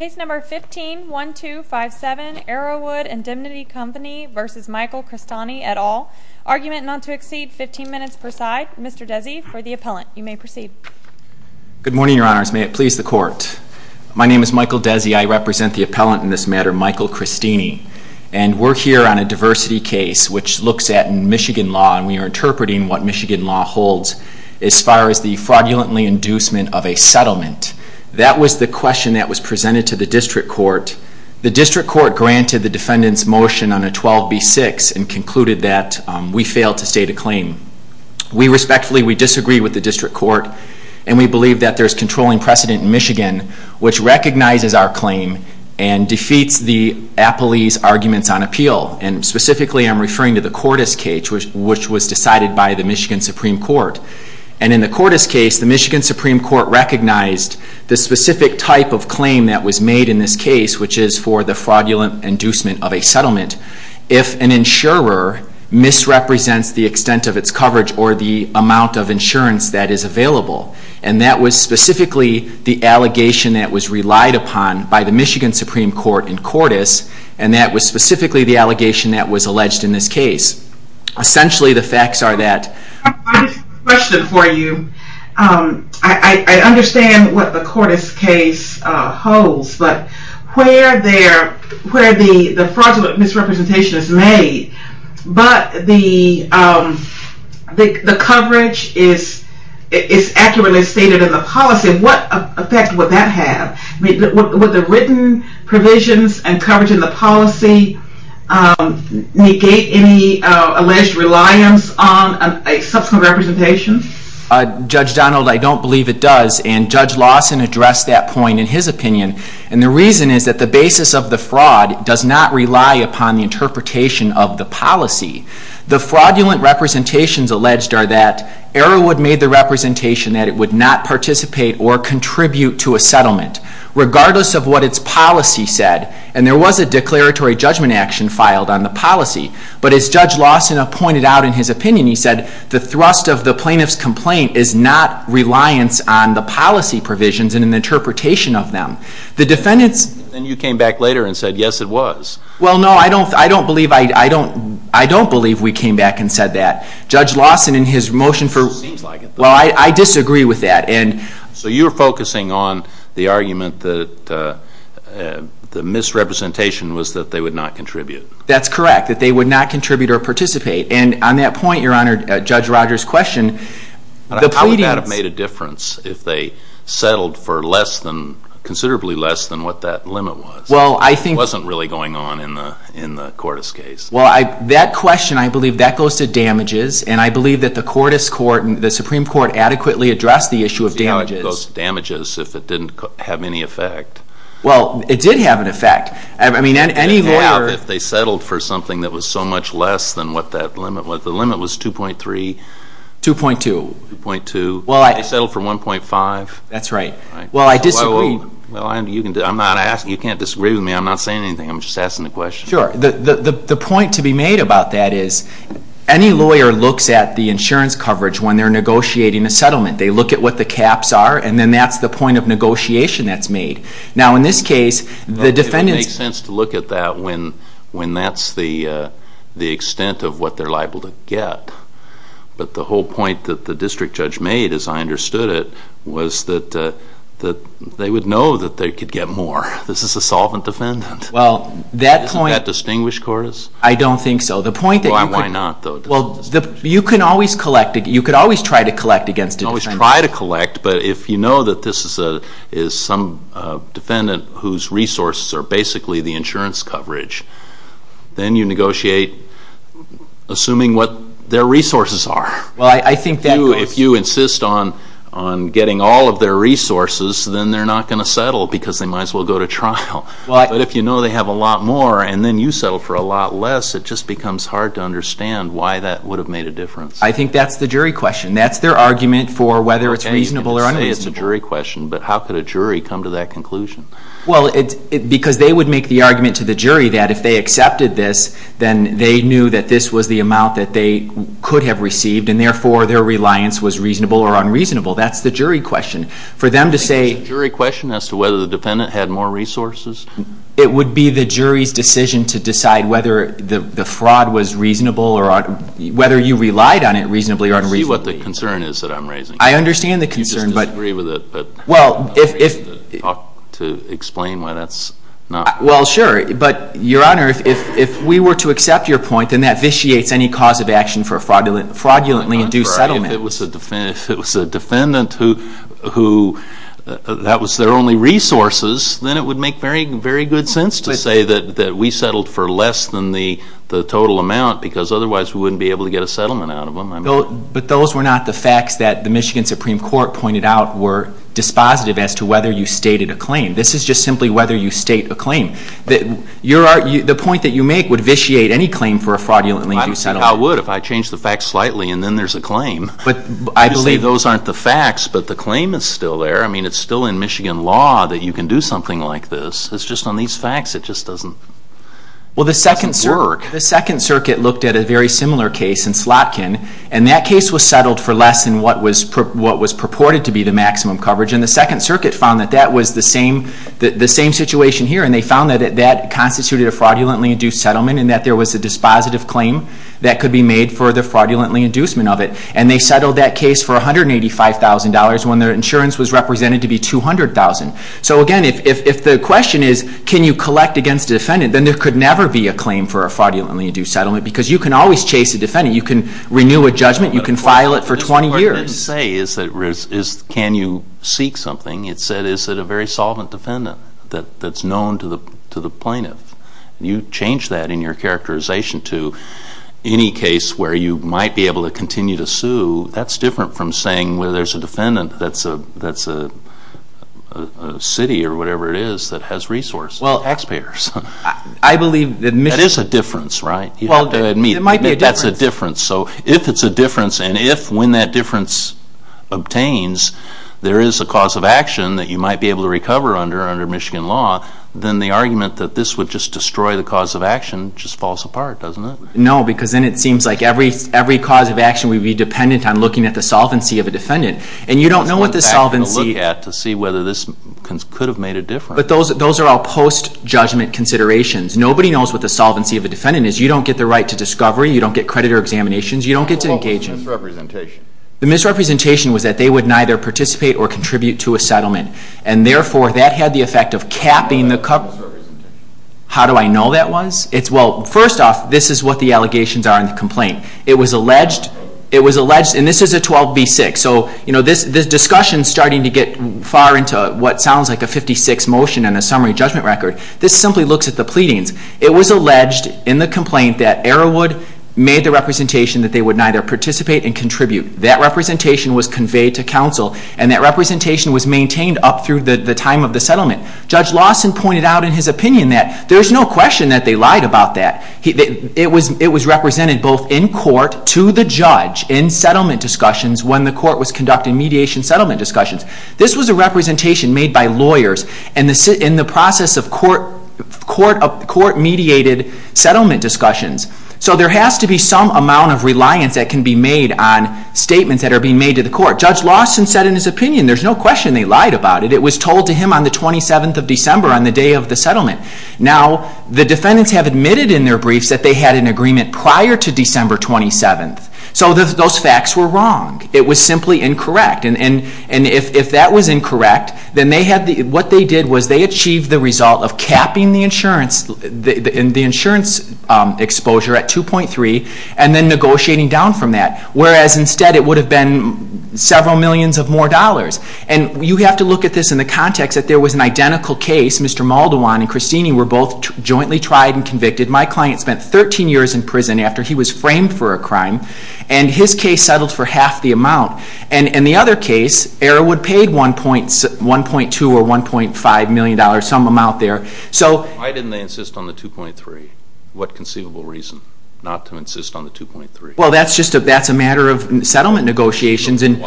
Case number 15-1257 Arrowood Indemnity Company v. Michael Cristini et al. Argument not to exceed 15 minutes per side. Mr. Desi for the appellant. You may proceed. Good morning, Your Honors. May it please the Court. My name is Michael Desi. I represent the appellant in this matter, Michael Cristini. And we're here on a diversity case which looks at Michigan law, and we are interpreting what Michigan law holds as far as the fraudulently inducement of a settlement. That was the question that was presented to the District Court. The District Court granted the defendant's motion on a 12b-6 and concluded that we failed to state a claim. We respectfully disagree with the District Court, and we believe that there's controlling precedent in Michigan which recognizes our claim and defeats the appellee's arguments on appeal. And specifically I'm referring to the Cordes case, which was decided by the Michigan Supreme Court. And in the Cordes case, the Michigan Supreme Court recognized the specific type of claim that was made in this case, which is for the fraudulent inducement of a settlement, if an insurer misrepresents the extent of its coverage or the amount of insurance that is available. And that was specifically the allegation that was relied upon by the Michigan Supreme Court in Cordes, and that was specifically the allegation that was alleged in this case. Essentially the facts are that. I have a question for you. I understand what the Cordes case holds, but where the fraudulent misrepresentation is made, but the coverage is accurately stated in the policy, what effect would that have? Would the written provisions and coverage in the policy negate any alleged reliance on a subsequent representation? Judge Donald, I don't believe it does, and Judge Lawson addressed that point in his opinion. And the reason is that the basis of the fraud does not rely upon the interpretation of the policy. The fraudulent representations alleged are that Arrowood made the representation that it would not participate or contribute to a settlement, regardless of what its policy said. And there was a declaratory judgment action filed on the policy. But as Judge Lawson pointed out in his opinion, he said the thrust of the plaintiff's complaint is not reliance on the policy provisions and an interpretation of them. The defendants... And you came back later and said, yes, it was. Well, no, I don't believe we came back and said that. Judge Lawson, in his motion for... Well, I disagree with that. So you're focusing on the argument that the misrepresentation was that they would not contribute. That's correct, that they would not contribute or participate. And on that point, Your Honor, Judge Rogers' question... How would that have made a difference if they settled for considerably less than what that limit was? It wasn't really going on in the Cordis case. Well, that question, I believe that goes to damages. And I believe that the Supreme Court adequately addressed the issue of damages. It goes to damages if it didn't have any effect. Well, it did have an effect. I mean, any lawyer... It would have if they settled for something that was so much less than what that limit was. The limit was 2.3. 2.2. 2.2. They settled for 1.5. That's right. Well, I disagree. Well, you can't disagree with me. I'm not saying anything. I'm just asking the question. Sure. The point to be made about that is any lawyer looks at the insurance coverage when they're negotiating a settlement. They look at what the caps are, and then that's the point of negotiation that's made. Now, in this case, the defendants... It would make sense to look at that when that's the extent of what they're liable to get. But the whole point that the district judge made, as I understood it, was that they would know that they could get more. This is a solvent defendant. Well, that point... Isn't that distinguished, Coras? I don't think so. The point that you could... Why not, though? Well, you can always collect it. You could always try to collect against a defendant. You can always try to collect, but if you know that this is some defendant whose resources are basically the insurance coverage, then you negotiate assuming what their resources are. Well, I think that goes... If you insist on getting all of their resources, then they're not going to settle because they might as well go to trial. But if you know they have a lot more and then you settle for a lot less, it just becomes hard to understand why that would have made a difference. I think that's the jury question. That's their argument for whether it's reasonable or unreasonable. Okay, you can say it's a jury question, but how could a jury come to that conclusion? Well, because they would make the argument to the jury that if they accepted this, then they knew that this was the amount that they could have received, and therefore their reliance was reasonable or unreasonable. That's the jury question. For them to say... It would be the jury's decision to decide whether the fraud was reasonable or whether you relied on it reasonably or unreasonably. I see what the concern is that I'm raising. I understand the concern, but... You just disagree with it. Well, if... I'm afraid to talk, to explain why that's not... Well, sure. But, Your Honor, if we were to accept your point, then that vitiates any cause of action for a fraudulently induced settlement. If it was a defendant who that was their only resources, then it would make very good sense to say that we settled for less than the total amount because otherwise we wouldn't be able to get a settlement out of them. But those were not the facts that the Michigan Supreme Court pointed out were dispositive as to whether you stated a claim. This is just simply whether you state a claim. The point that you make would vitiate any claim for a fraudulently induced settlement. I would if I changed the facts slightly and then there's a claim. But I believe... You say those aren't the facts, but the claim is still there. I mean, it's still in Michigan law that you can do something like this. It's just on these facts it just doesn't work. Well, the Second Circuit looked at a very similar case in Slotkin, and that case was settled for less than what was purported to be the maximum coverage, and the Second Circuit found that that was the same situation here, and they found that that constituted a fraudulently induced settlement and that there was a dispositive claim that could be made for the fraudulently induced settlement of it. And they settled that case for $185,000 when their insurance was represented to be $200,000. So again, if the question is can you collect against a defendant, then there could never be a claim for a fraudulently induced settlement because you can always chase a defendant. You can renew a judgment. You can file it for 20 years. What it didn't say is can you seek something. It said is it a very solvent defendant that's known to the plaintiff. You change that in your characterization to any case where you might be able to continue to sue, that's different from saying where there's a defendant that's a city or whatever it is that has resources, taxpayers. I believe that Michigan... That is a difference, right? Well, it might be a difference. That's a difference. So if it's a difference, and if when that difference obtains, there is a cause of action that you might be able to recover under under Michigan law, then the argument that this would just destroy the cause of action just falls apart, doesn't it? No, because then it seems like every cause of action would be dependent on looking at the solvency of a defendant. And you don't know what the solvency... You have to look at to see whether this could have made a difference. But those are all post-judgment considerations. Nobody knows what the solvency of a defendant is. You don't get the right to discovery. You don't get creditor examinations. You don't get to engage in... What about the misrepresentation? The misrepresentation was that they would neither participate or contribute to a settlement, and therefore that had the effect of capping the coverage. How do I know that was? Well, first off, this is what the allegations are in the complaint. It was alleged... And this is a 12b-6. So this discussion is starting to get far into what sounds like a 56 motion and a summary judgment record. This simply looks at the pleadings. It was alleged in the complaint that Arrowwood made the representation that they would neither participate and contribute. That representation was conveyed to counsel, and that representation was maintained up through the time of the settlement. Judge Lawson pointed out in his opinion that there's no question that they lied about that. It was represented both in court to the judge in settlement discussions when the court was conducting mediation settlement discussions. This was a representation made by lawyers in the process of court-mediated settlement discussions. So there has to be some amount of reliance that can be made on statements that are being made to the court. Judge Lawson said in his opinion there's no question they lied about it. It was told to him on the 27th of December on the day of the settlement. Now, the defendants have admitted in their briefs that they had an agreement prior to December 27th. So those facts were wrong. It was simply incorrect. And if that was incorrect, then what they did was they achieved the result of capping the insurance exposure at 2.3 and then negotiating down from that. Whereas instead it would have been several millions of more dollars. And you have to look at this in the context that there was an identical case. Mr. Maldwan and Christine were both jointly tried and convicted. My client spent 13 years in prison after he was framed for a crime, and his case settled for half the amount. And in the other case, Arrowwood paid $1.2 or $1.5 million, some amount there. Why didn't they insist on the 2.3? What conceivable reason not to insist on the 2.3? Well, that's a matter of settlement negotiations. There's no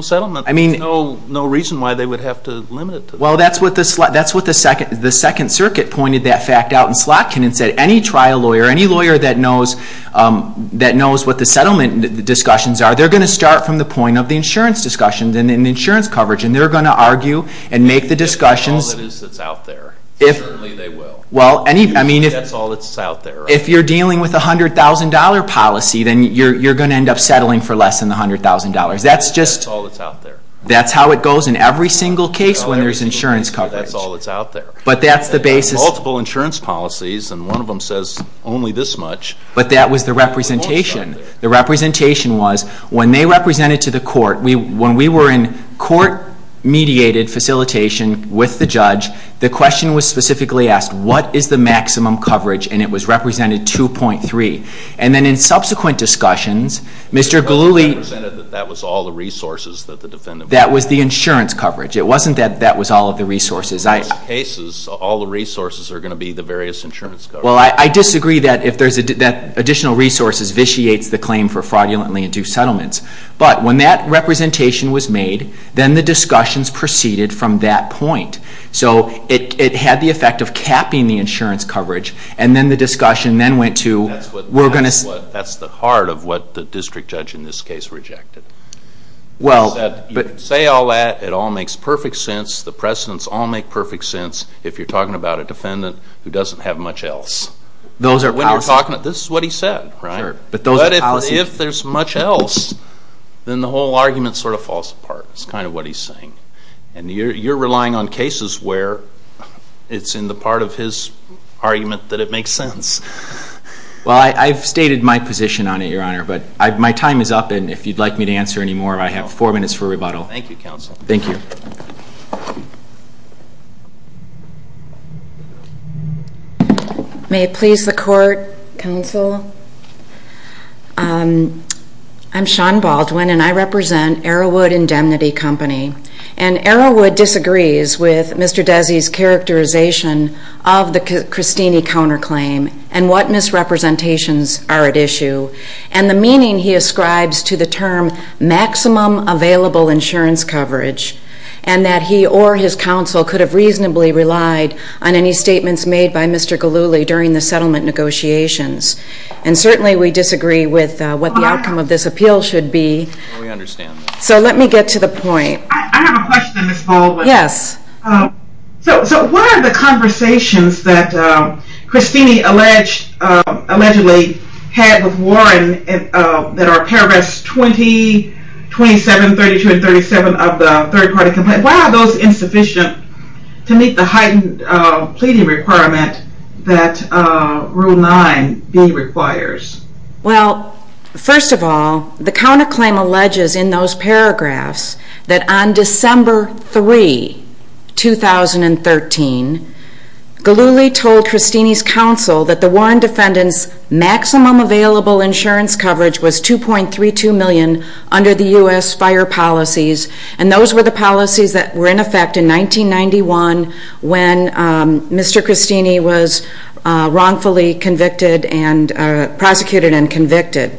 settlement. There's no reason why they would have to limit it. Well, that's what the Second Circuit pointed that fact out in Slotkin and said, any trial lawyer, any lawyer that knows what the settlement discussions are, they're going to start from the point of the insurance discussions and insurance coverage, and they're going to argue and make the discussions. That's all that's out there. Certainly they will. That's all that's out there. If you're dealing with a $100,000 policy, then you're going to end up settling for less than the $100,000. That's all that's out there. That's how it goes in every single case when there's insurance coverage. That's all that's out there. Multiple insurance policies, and one of them says only this much. But that was the representation. The representation was when they represented to the court, when we were in court-mediated facilitation with the judge, the question was specifically asked, what is the maximum coverage? And it was represented 2.3. And then in subsequent discussions, Mr. Galluli- That was all the resources that the defendant- That was the insurance coverage. It wasn't that that was all of the resources. In most cases, all the resources are going to be the various insurance coverage. Well, I disagree that additional resources vitiates the claim for fraudulently in two settlements. But when that representation was made, then the discussions proceeded from that point. So it had the effect of capping the insurance coverage, and then the discussion then went to- That's the heart of what the district judge in this case rejected. He said, you can say all that, it all makes perfect sense, the precedents all make perfect sense, if you're talking about a defendant who doesn't have much else. This is what he said, right? But if there's much else, then the whole argument sort of falls apart, is kind of what he's saying. And you're relying on cases where it's in the part of his argument that it makes sense. Well, I've stated my position on it, Your Honor, but my time is up, and if you'd like me to answer any more, I have four minutes for rebuttal. Thank you, Counsel. Thank you. May it please the Court, Counsel? I'm Shawn Baldwin, and I represent Arrowwood Indemnity Company. And Arrowwood disagrees with Mr. Desi's characterization of the Cristini counterclaim and what misrepresentations are at issue, and the meaning he ascribes to the term maximum available insurance coverage, and that he or his counsel could have reasonably relied on any statements made by Mr. Galulli during the settlement negotiations. And certainly we disagree with what the outcome of this appeal should be. We understand. So let me get to the point. I have a question, Ms. Baldwin. Yes. So what are the conversations that Cristini allegedly had with Warren that are paragraphs 20, 27, 32, and 37 of the third-party complaint? Why are those insufficient to meet the heightened pleading requirement that Rule 9b requires? Well, first of all, the counterclaim alleges in those paragraphs that on December 3, 2013, Galulli told Cristini's counsel that the Warren defendant's maximum available insurance coverage was $2.32 million under the U.S. fire policies, and those were the policies that were in effect in 1991 when Mr. Cristini was wrongfully convicted and prosecuted and convicted.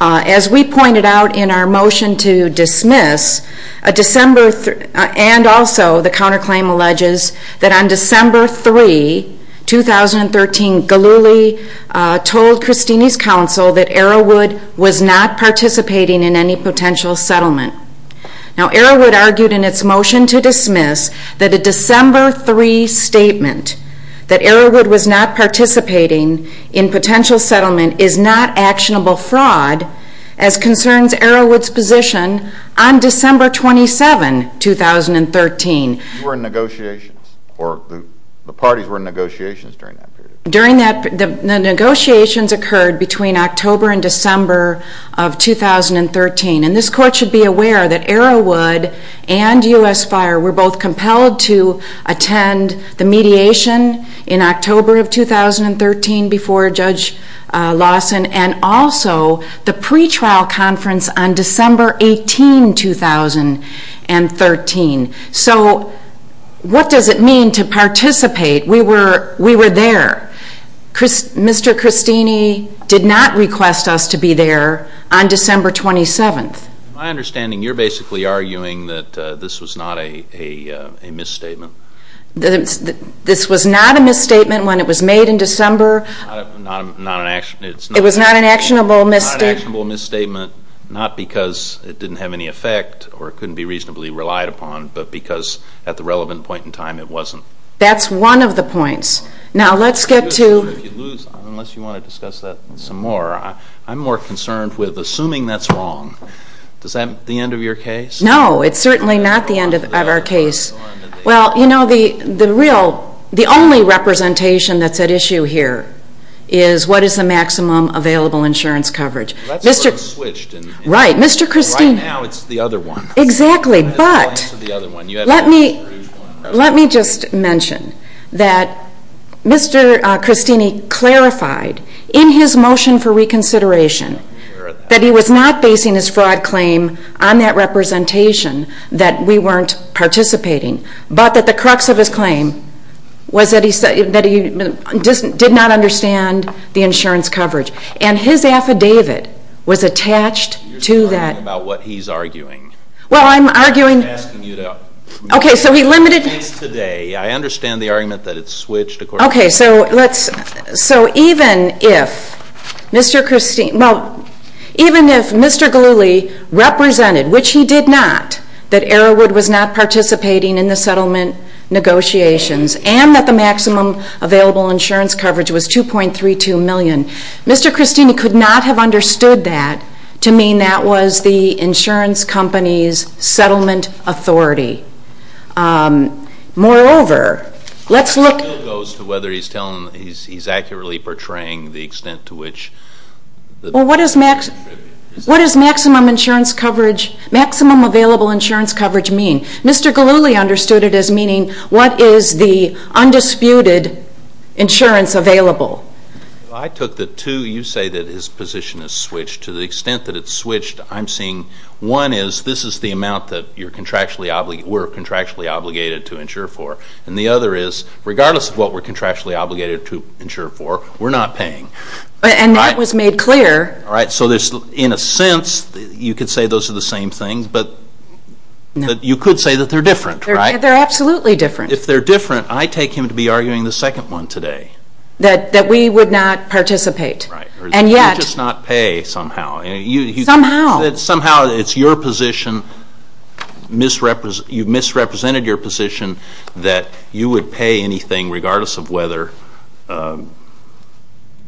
As we pointed out in our motion to dismiss, and also the counterclaim alleges that on December 3, 2013, Galulli told Cristini's counsel that Arrowood was not participating in any potential settlement. Now, Arrowood argued in its motion to dismiss that a December 3 statement that Arrowood was not participating in potential settlement is not actionable fraud as concerns Arrowood's position on December 27, 2013. You were in negotiations, or the parties were in negotiations during that period? During that, the negotiations occurred between October and December of 2013, and this Court should be aware that Arrowood and U.S. Fire were both compelled to attend the mediation in October of 2013 before Judge Lawson and also the pretrial conference on December 18, 2013. So what does it mean to participate? We were there. Mr. Cristini did not request us to be there on December 27. My understanding, you're basically arguing that this was not a misstatement. This was not a misstatement when it was made in December. It was not an actionable misstatement, not because it didn't have any effect or couldn't be reasonably relied upon, but because at the relevant point in time it wasn't. That's one of the points. Now, let's get to... Unless you want to discuss that some more. I'm more concerned with assuming that's wrong. Is that the end of your case? No, it's certainly not the end of our case. Well, you know, the real, the only representation that's at issue here is what is the maximum available insurance coverage. Right, Mr. Cristini. Right now it's the other one. Exactly, but let me just mention that Mr. Cristini clarified in his motion for reconsideration that he was not basing his fraud claim on that representation that we weren't participating, but that the crux of his claim was that he did not understand the insurance coverage. And his affidavit was attached to that. You're arguing about what he's arguing. Well, I'm arguing... I'm not asking you to... Okay, so he limited... It's today. I understand the argument that it's switched according to... Okay, so let's... So even if Mr. Cristini... Well, even if Mr. Galluli represented, which he did not, that Arrowwood was not participating in the settlement negotiations and that the maximum available insurance coverage was $2.32 million, Mr. Cristini could not have understood that to mean that was the insurance company's settlement authority. Moreover, let's look... That still goes to whether he's accurately portraying the extent to which... Well, what does maximum insurance coverage, maximum available insurance coverage mean? Mr. Galluli understood it as meaning what is the undisputed insurance available. Well, I took the two. You say that his position is switched. To the extent that it's switched, I'm seeing one is this is the amount that you're contractually... we're contractually obligated to insure for, and the other is regardless of what we're contractually obligated to insure for, we're not paying. And that was made clear. All right, so in a sense, you could say those are the same things, but you could say that they're different, right? They're absolutely different. If they're different, I take him to be arguing the second one today. That we would not participate. Right. And yet... You just not pay somehow. Somehow. Somehow it's your position, you've misrepresented your position, that you would pay anything regardless of whether...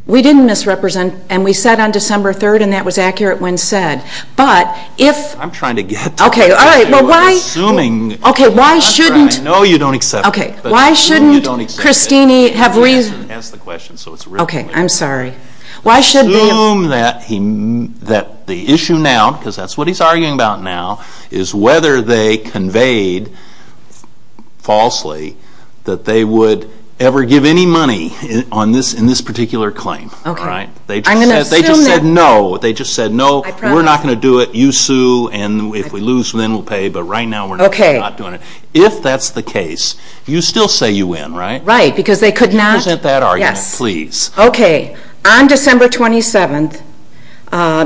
We didn't misrepresent, and we said on December 3rd, and that was accurate when said. But if... I'm trying to get to... Okay, all right, well why... I'm assuming... Okay, why shouldn't... I know you don't accept it. Okay, why shouldn't... I know you don't accept it. ...Christine have reason... Ask the question so it's... Okay, I'm sorry. Why should... Assume that the issue now, because that's what he's arguing about now, is whether they conveyed falsely that they would ever give any money in this particular claim. Okay. I'm going to assume that... They just said no. They just said no. I promise. We're not going to do it. You sue, and if we lose, then we'll pay. But right now we're not doing it. Okay. If that's the case, you still say you win, right? Right, because they could not... Can you present that argument, please? Yes. Okay. On December 27th,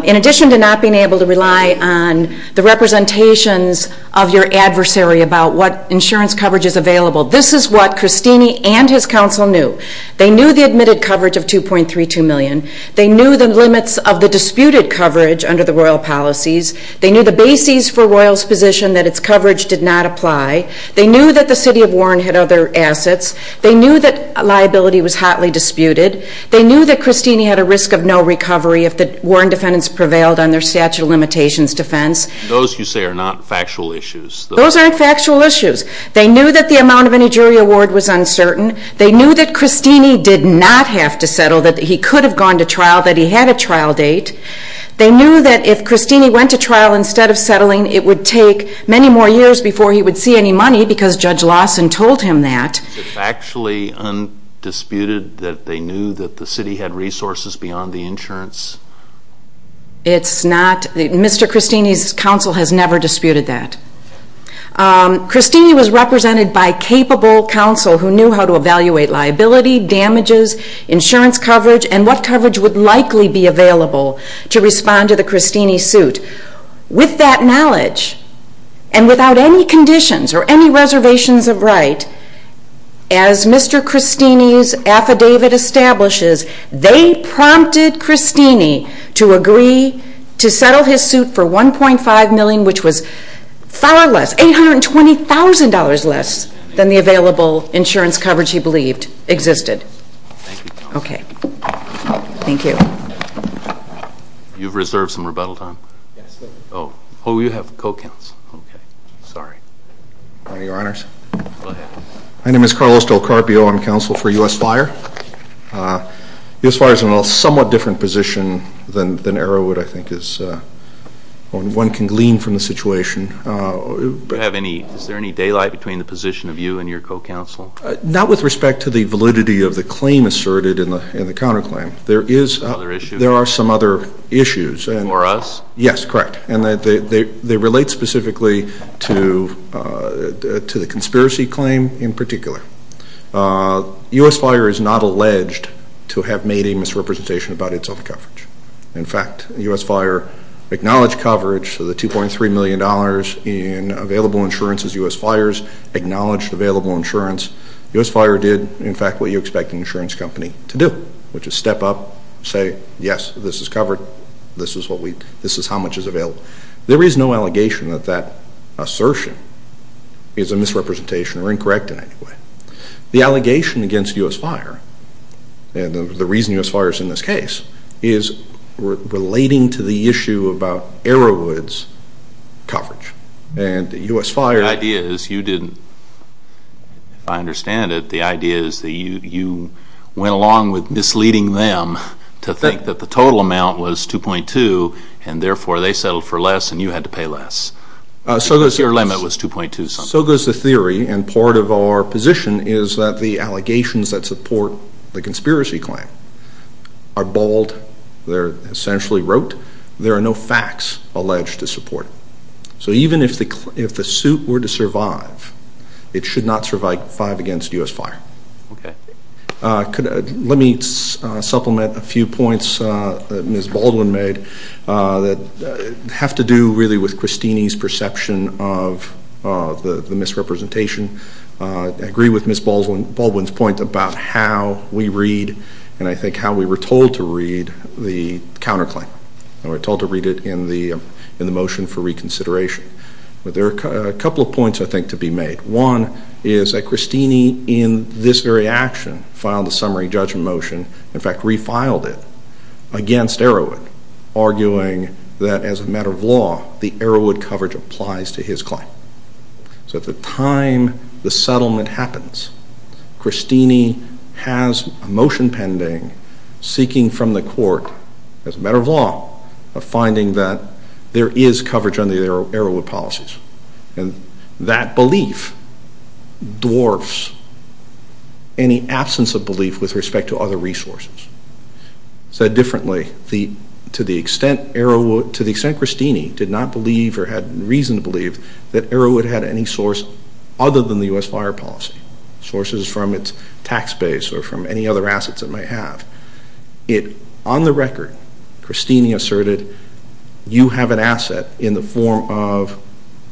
in addition to not being able to rely on the representations of your adversary about what insurance coverage is available, this is what Christine and his counsel knew. They knew the admitted coverage of $2.32 million. They knew the limits of the disputed coverage under the royal policies. They knew the bases for royals' position, that its coverage did not apply. They knew that the city of Warren had other assets. They knew that liability was hotly disputed. They knew that Christine had a risk of no recovery if the Warren defendants prevailed on their statute of limitations defense. Those, you say, are not factual issues. Those aren't factual issues. They knew that the amount of any jury award was uncertain. They knew that Christine did not have to settle, that he could have gone to trial, that he had a trial date. They knew that if Christine went to trial instead of settling, it would take many more years before he would see any money because Judge Lawson told him that. Is it factually undisputed that they knew that the city had resources beyond the insurance? It's not. Mr. Christine's counsel has never disputed that. Christine was represented by capable counsel who knew how to evaluate liability, damages, insurance coverage, and what coverage would likely be available to respond to the Christine suit. With that knowledge and without any conditions or any reservations of right, as Mr. Christine's affidavit establishes, they prompted Christine to agree to settle his suit for $1.5 million, which was far less, $820,000 less than the available insurance coverage he believed existed. Okay. Thank you. You've reserved some rebuttal time? Yes. Oh, you have co-counsel. Okay. Sorry. Your Honors. Go ahead. My name is Carlos Del Carpio. I'm counsel for U.S. Fire. U.S. Fire is in a somewhat different position than Arrowwood, I think, is. One can glean from the situation. Is there any daylight between the position of you and your co-counsel? Not with respect to the validity of the claim asserted in the counterclaim. There are some other issues. For us? Yes, correct. And they relate specifically to the conspiracy claim in particular. U.S. Fire is not alleged to have made a misrepresentation about its own coverage. In fact, U.S. Fire acknowledged coverage, so the $2.3 million in available insurance as U.S. Fires acknowledged available insurance. U.S. Fire did, in fact, what you expect an insurance company to do, which is step up, say, yes, this is covered, this is how much is available. There is no allegation that that assertion is a misrepresentation or incorrect in any way. The allegation against U.S. Fire and the reason U.S. Fire is in this case is relating to the issue about Arrowood's coverage, and U.S. Fire The idea is you didn't, if I understand it, the idea is that you went along with misleading them to think that the total amount was $2.2 and therefore they settled for less and you had to pay less because your limit was $2.2 something. So goes the theory, and part of our position is that the allegations that support the conspiracy claim are bald, they're essentially rote, there are no facts alleged to support it. So even if the suit were to survive, it should not survive five against U.S. Fire. Let me supplement a few points that Ms. Baldwin made that have to do really with Christine's perception of the misrepresentation. I agree with Ms. Baldwin's point about how we read and I think how we were told to read the counterclaim. We were told to read it in the motion for reconsideration. There are a couple of points I think to be made. One is that Christine in this very action filed a summary judgment motion, in fact refiled it, against Arrowood, arguing that as a matter of law, the Arrowood coverage applies to his claim. So at the time the settlement happens, Christine has a motion pending, seeking from the court as a matter of law, a finding that there is coverage under the Arrowood policies. And that belief dwarfs any absence of belief with respect to other resources. Said differently, to the extent Christine did not believe or had reason to believe that Arrowood had any source other than the U.S. Fire policy, sources from its tax base or from any other assets it may have, on the record, Christine asserted, you have an asset in the form of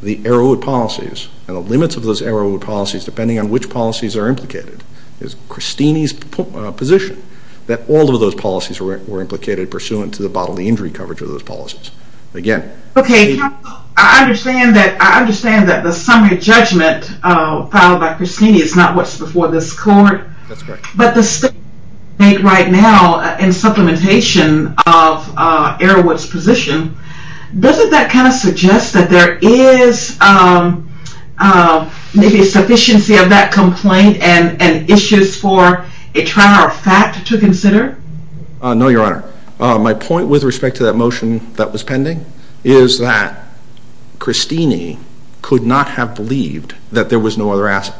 the Arrowood policies and the limits of those Arrowood policies, depending on which policies are implicated, is Christine's position that all of those policies were implicated pursuant to the bodily injury coverage of those policies. Again... Okay, counsel, I understand that the summary judgment filed by Christine is not what's before this court. That's correct. But the statement you make right now in supplementation of Arrowood's position, doesn't that kind of suggest that there is maybe a sufficiency of that complaint and issues for a trial or fact to consider? No, Your Honor. My point with respect to that motion that was pending is that Christine could not have believed that there was no other asset.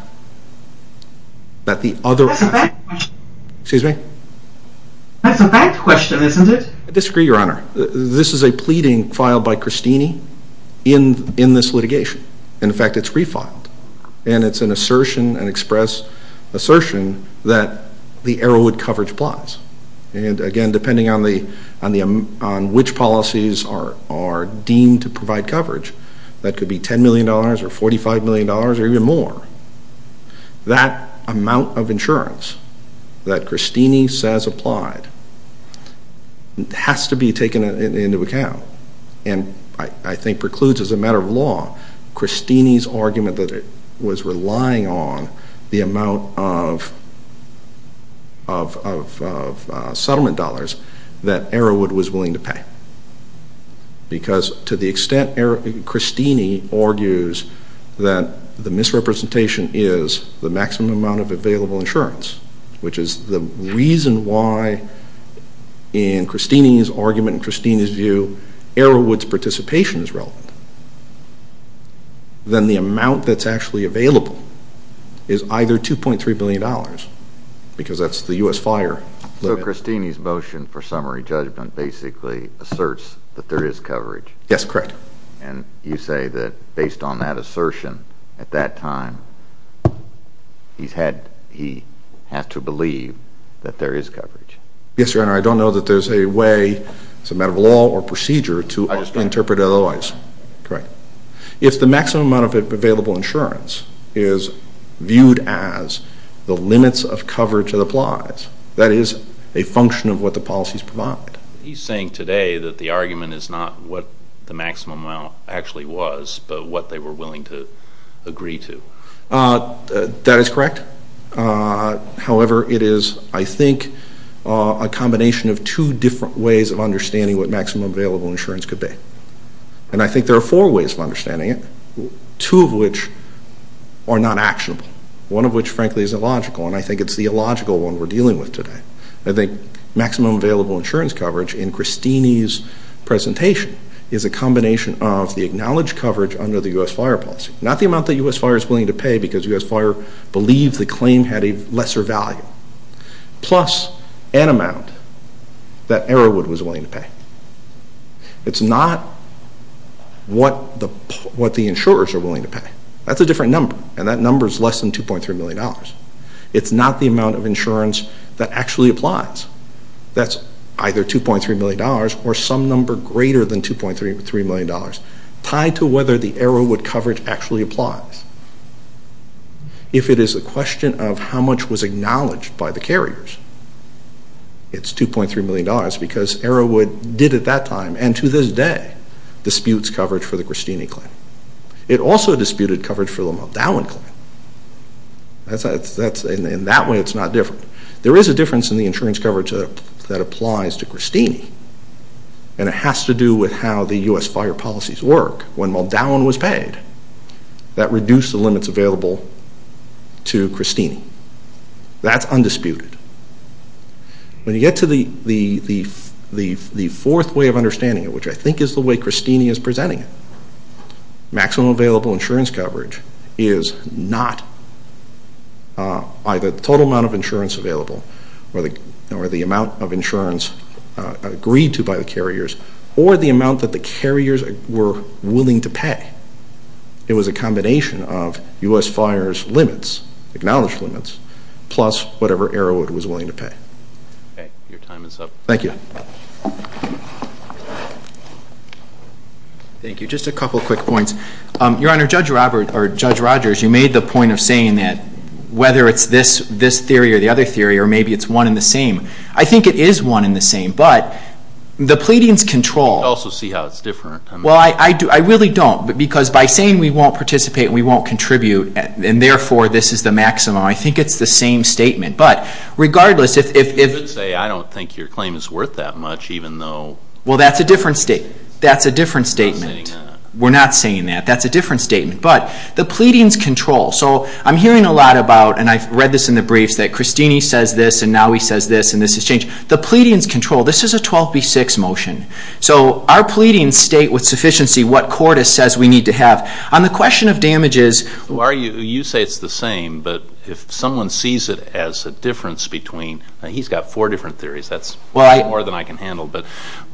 That the other... That's a fact question. Excuse me? That's a fact question, isn't it? I disagree, Your Honor. This is a pleading filed by Christine in this litigation. In fact, it's refiled. And it's an assertion, an express assertion, that the Arrowood coverage applies. And again, depending on which policies are deemed to provide coverage, that could be $10 million or $45 million or even more. That amount of insurance that Christine says applied has to be taken into account. And I think precludes, as a matter of law, Christine's argument that it was relying on the amount of settlement dollars because to the extent Christine argues that the misrepresentation is the maximum amount of available insurance, which is the reason why in Christine's argument, in Christine's view, Arrowood's participation is relevant, then the amount that's actually available is either $2.3 million because that's the U.S. fire limit. So Christine's motion for summary judgment basically asserts that there is coverage. Yes, correct. And you say that based on that assertion at that time, he has to believe that there is coverage. Yes, Your Honor. I don't know that there's a way, as a matter of law or procedure, to interpret it otherwise. Correct. If the maximum amount of available insurance is viewed as the limits of coverage that applies, that is a function of what the policies provide. He's saying today that the argument is not what the maximum amount actually was but what they were willing to agree to. That is correct. However, it is, I think, a combination of two different ways of understanding what maximum available insurance could be. And I think there are four ways of understanding it, two of which are not actionable, one of which, frankly, is illogical, and I think it's the illogical one we're dealing with today. I think maximum available insurance coverage, in Christine's presentation, is a combination of the acknowledged coverage under the U.S. fire policy, not the amount that U.S. fire is willing to pay because U.S. fire believed the claim had a lesser value, plus an amount that Arrowwood was willing to pay. It's not what the insurers are willing to pay. That's a different number, and that number is less than $2.3 million. It's not the amount of insurance that actually applies. That's either $2.3 million or some number greater than $2.3 million tied to whether the Arrowwood coverage actually applies. If it is a question of how much was acknowledged by the carriers, it's $2.3 million because Arrowwood did at that time and to this day disputes coverage for the Christine claim. It also disputed coverage for the Muldowan claim. In that way, it's not different. There is a difference in the insurance coverage that applies to Christine, and it has to do with how the U.S. fire policies work. When Muldowan was paid, that reduced the limits available to Christine. That's undisputed. When you get to the fourth way of understanding it, which I think is the way Christine is presenting it, maximum available insurance coverage is not either the total amount of insurance available or the amount of insurance agreed to by the carriers or the amount that the carriers were willing to pay. It was a combination of U.S. fire's limits, acknowledged limits, plus whatever Arrowwood was willing to pay. Your time is up. Thank you. Thank you. Just a couple of quick points. Your Honor, Judge Rogers, you made the point of saying that whether it's this theory or the other theory or maybe it's one and the same. I think it is one and the same, but the pleadings control. I can also see how it's different. Well, I really don't because by saying we won't participate and we won't contribute and therefore this is the maximum, I think it's the same statement. But regardless if... You could say I don't think your claim is worth that much even though... Well, that's a different statement. We're not saying that. We're not saying that. That's a different statement. But the pleadings control. So I'm hearing a lot about, and I've read this in the briefs, that Christine says this and now he says this and this has changed. The pleadings control. This is a 12B6 motion. So our pleadings state with sufficiency what Cordis says we need to have. On the question of damages... You say it's the same, but if someone sees it as a difference between... He's got four different theories. That's more than I can handle.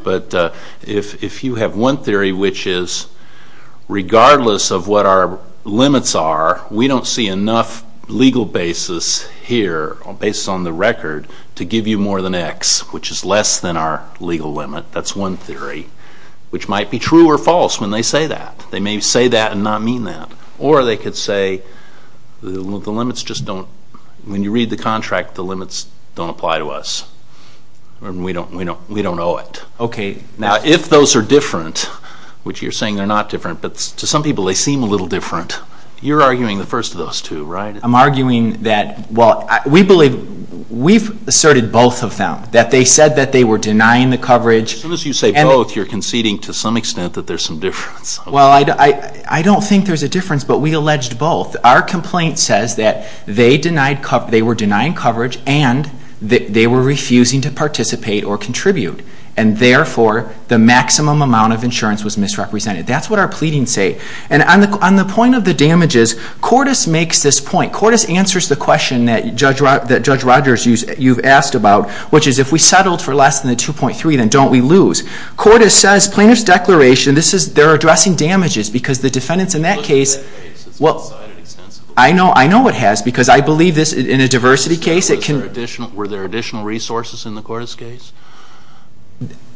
But if you have one theory which is regardless of what our limits are, we don't see enough legal basis here based on the record to give you more than X, which is less than our legal limit. That's one theory, which might be true or false when they say that. They may say that and not mean that. Or they could say the limits just don't, when you read the contract, the limits don't apply to us. We don't owe it. Okay. Now, if those are different, which you're saying they're not different, but to some people they seem a little different, you're arguing the first of those two, right? I'm arguing that, well, we believe we've asserted both of them, that they said that they were denying the coverage. As soon as you say both, you're conceding to some extent that there's some difference. Well, I don't think there's a difference, but we alleged both. Our complaint says that they were denying coverage and they were refusing to participate or contribute, and therefore the maximum amount of insurance was misrepresented. That's what our pleadings say. And on the point of the damages, Cordes makes this point. Cordes answers the question that Judge Rogers, you've asked about, which is if we settled for less than the 2.3, then don't we lose? Cordes says plaintiff's declaration, this is, they're addressing damages because the defendants in that case, well, I know it has because I believe this, in a diversity case, it can. Were there additional resources in the Cordes case?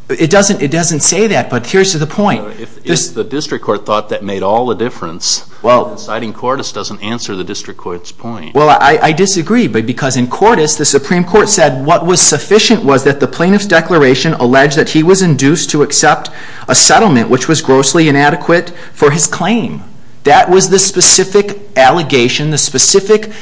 It doesn't say that, but here's to the point. If the district court thought that made all the difference, citing Cordes doesn't answer the district court's point. Well, I disagree because in Cordes, the Supreme Court said what was sufficient was that the plaintiff's declaration alleged that he was induced to accept a settlement which was grossly inadequate for his claim. That was the specific allegation, the specific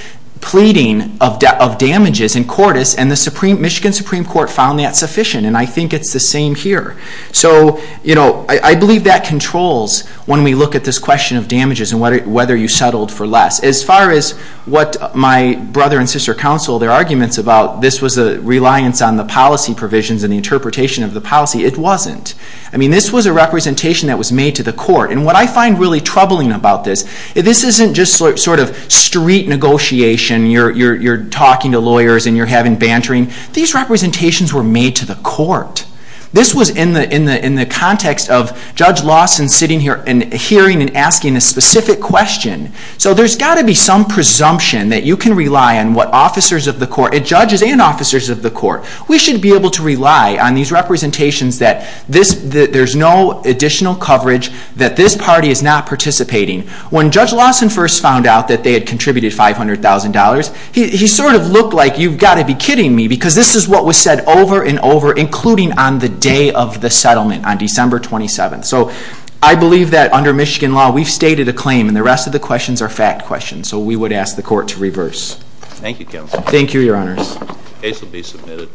pleading of damages in Cordes, and the Michigan Supreme Court found that sufficient, and I think it's the same here. So I believe that controls when we look at this question of damages and whether you settled for less. As far as what my brother and sister counsel, their arguments about this was a reliance on the policy provisions and the interpretation of the policy, it wasn't. I mean, this was a representation that was made to the court, and what I find really troubling about this, this isn't just sort of street negotiation, you're talking to lawyers and you're having bantering. These representations were made to the court. This was in the context of Judge Lawson sitting here and hearing and asking a specific question. So there's got to be some presumption that you can rely on what judges and officers of the court, we should be able to rely on these representations that there's no additional coverage, that this party is not participating. When Judge Lawson first found out that they had contributed $500,000, he sort of looked like, you've got to be kidding me, because this is what was said over and over, including on the day of the settlement on December 27th. So I believe that under Michigan law, we've stated a claim and the rest of the questions are fact questions, so we would ask the court to reverse. Thank you, Counsel. Thank you, Your Honors. The case will be submitted.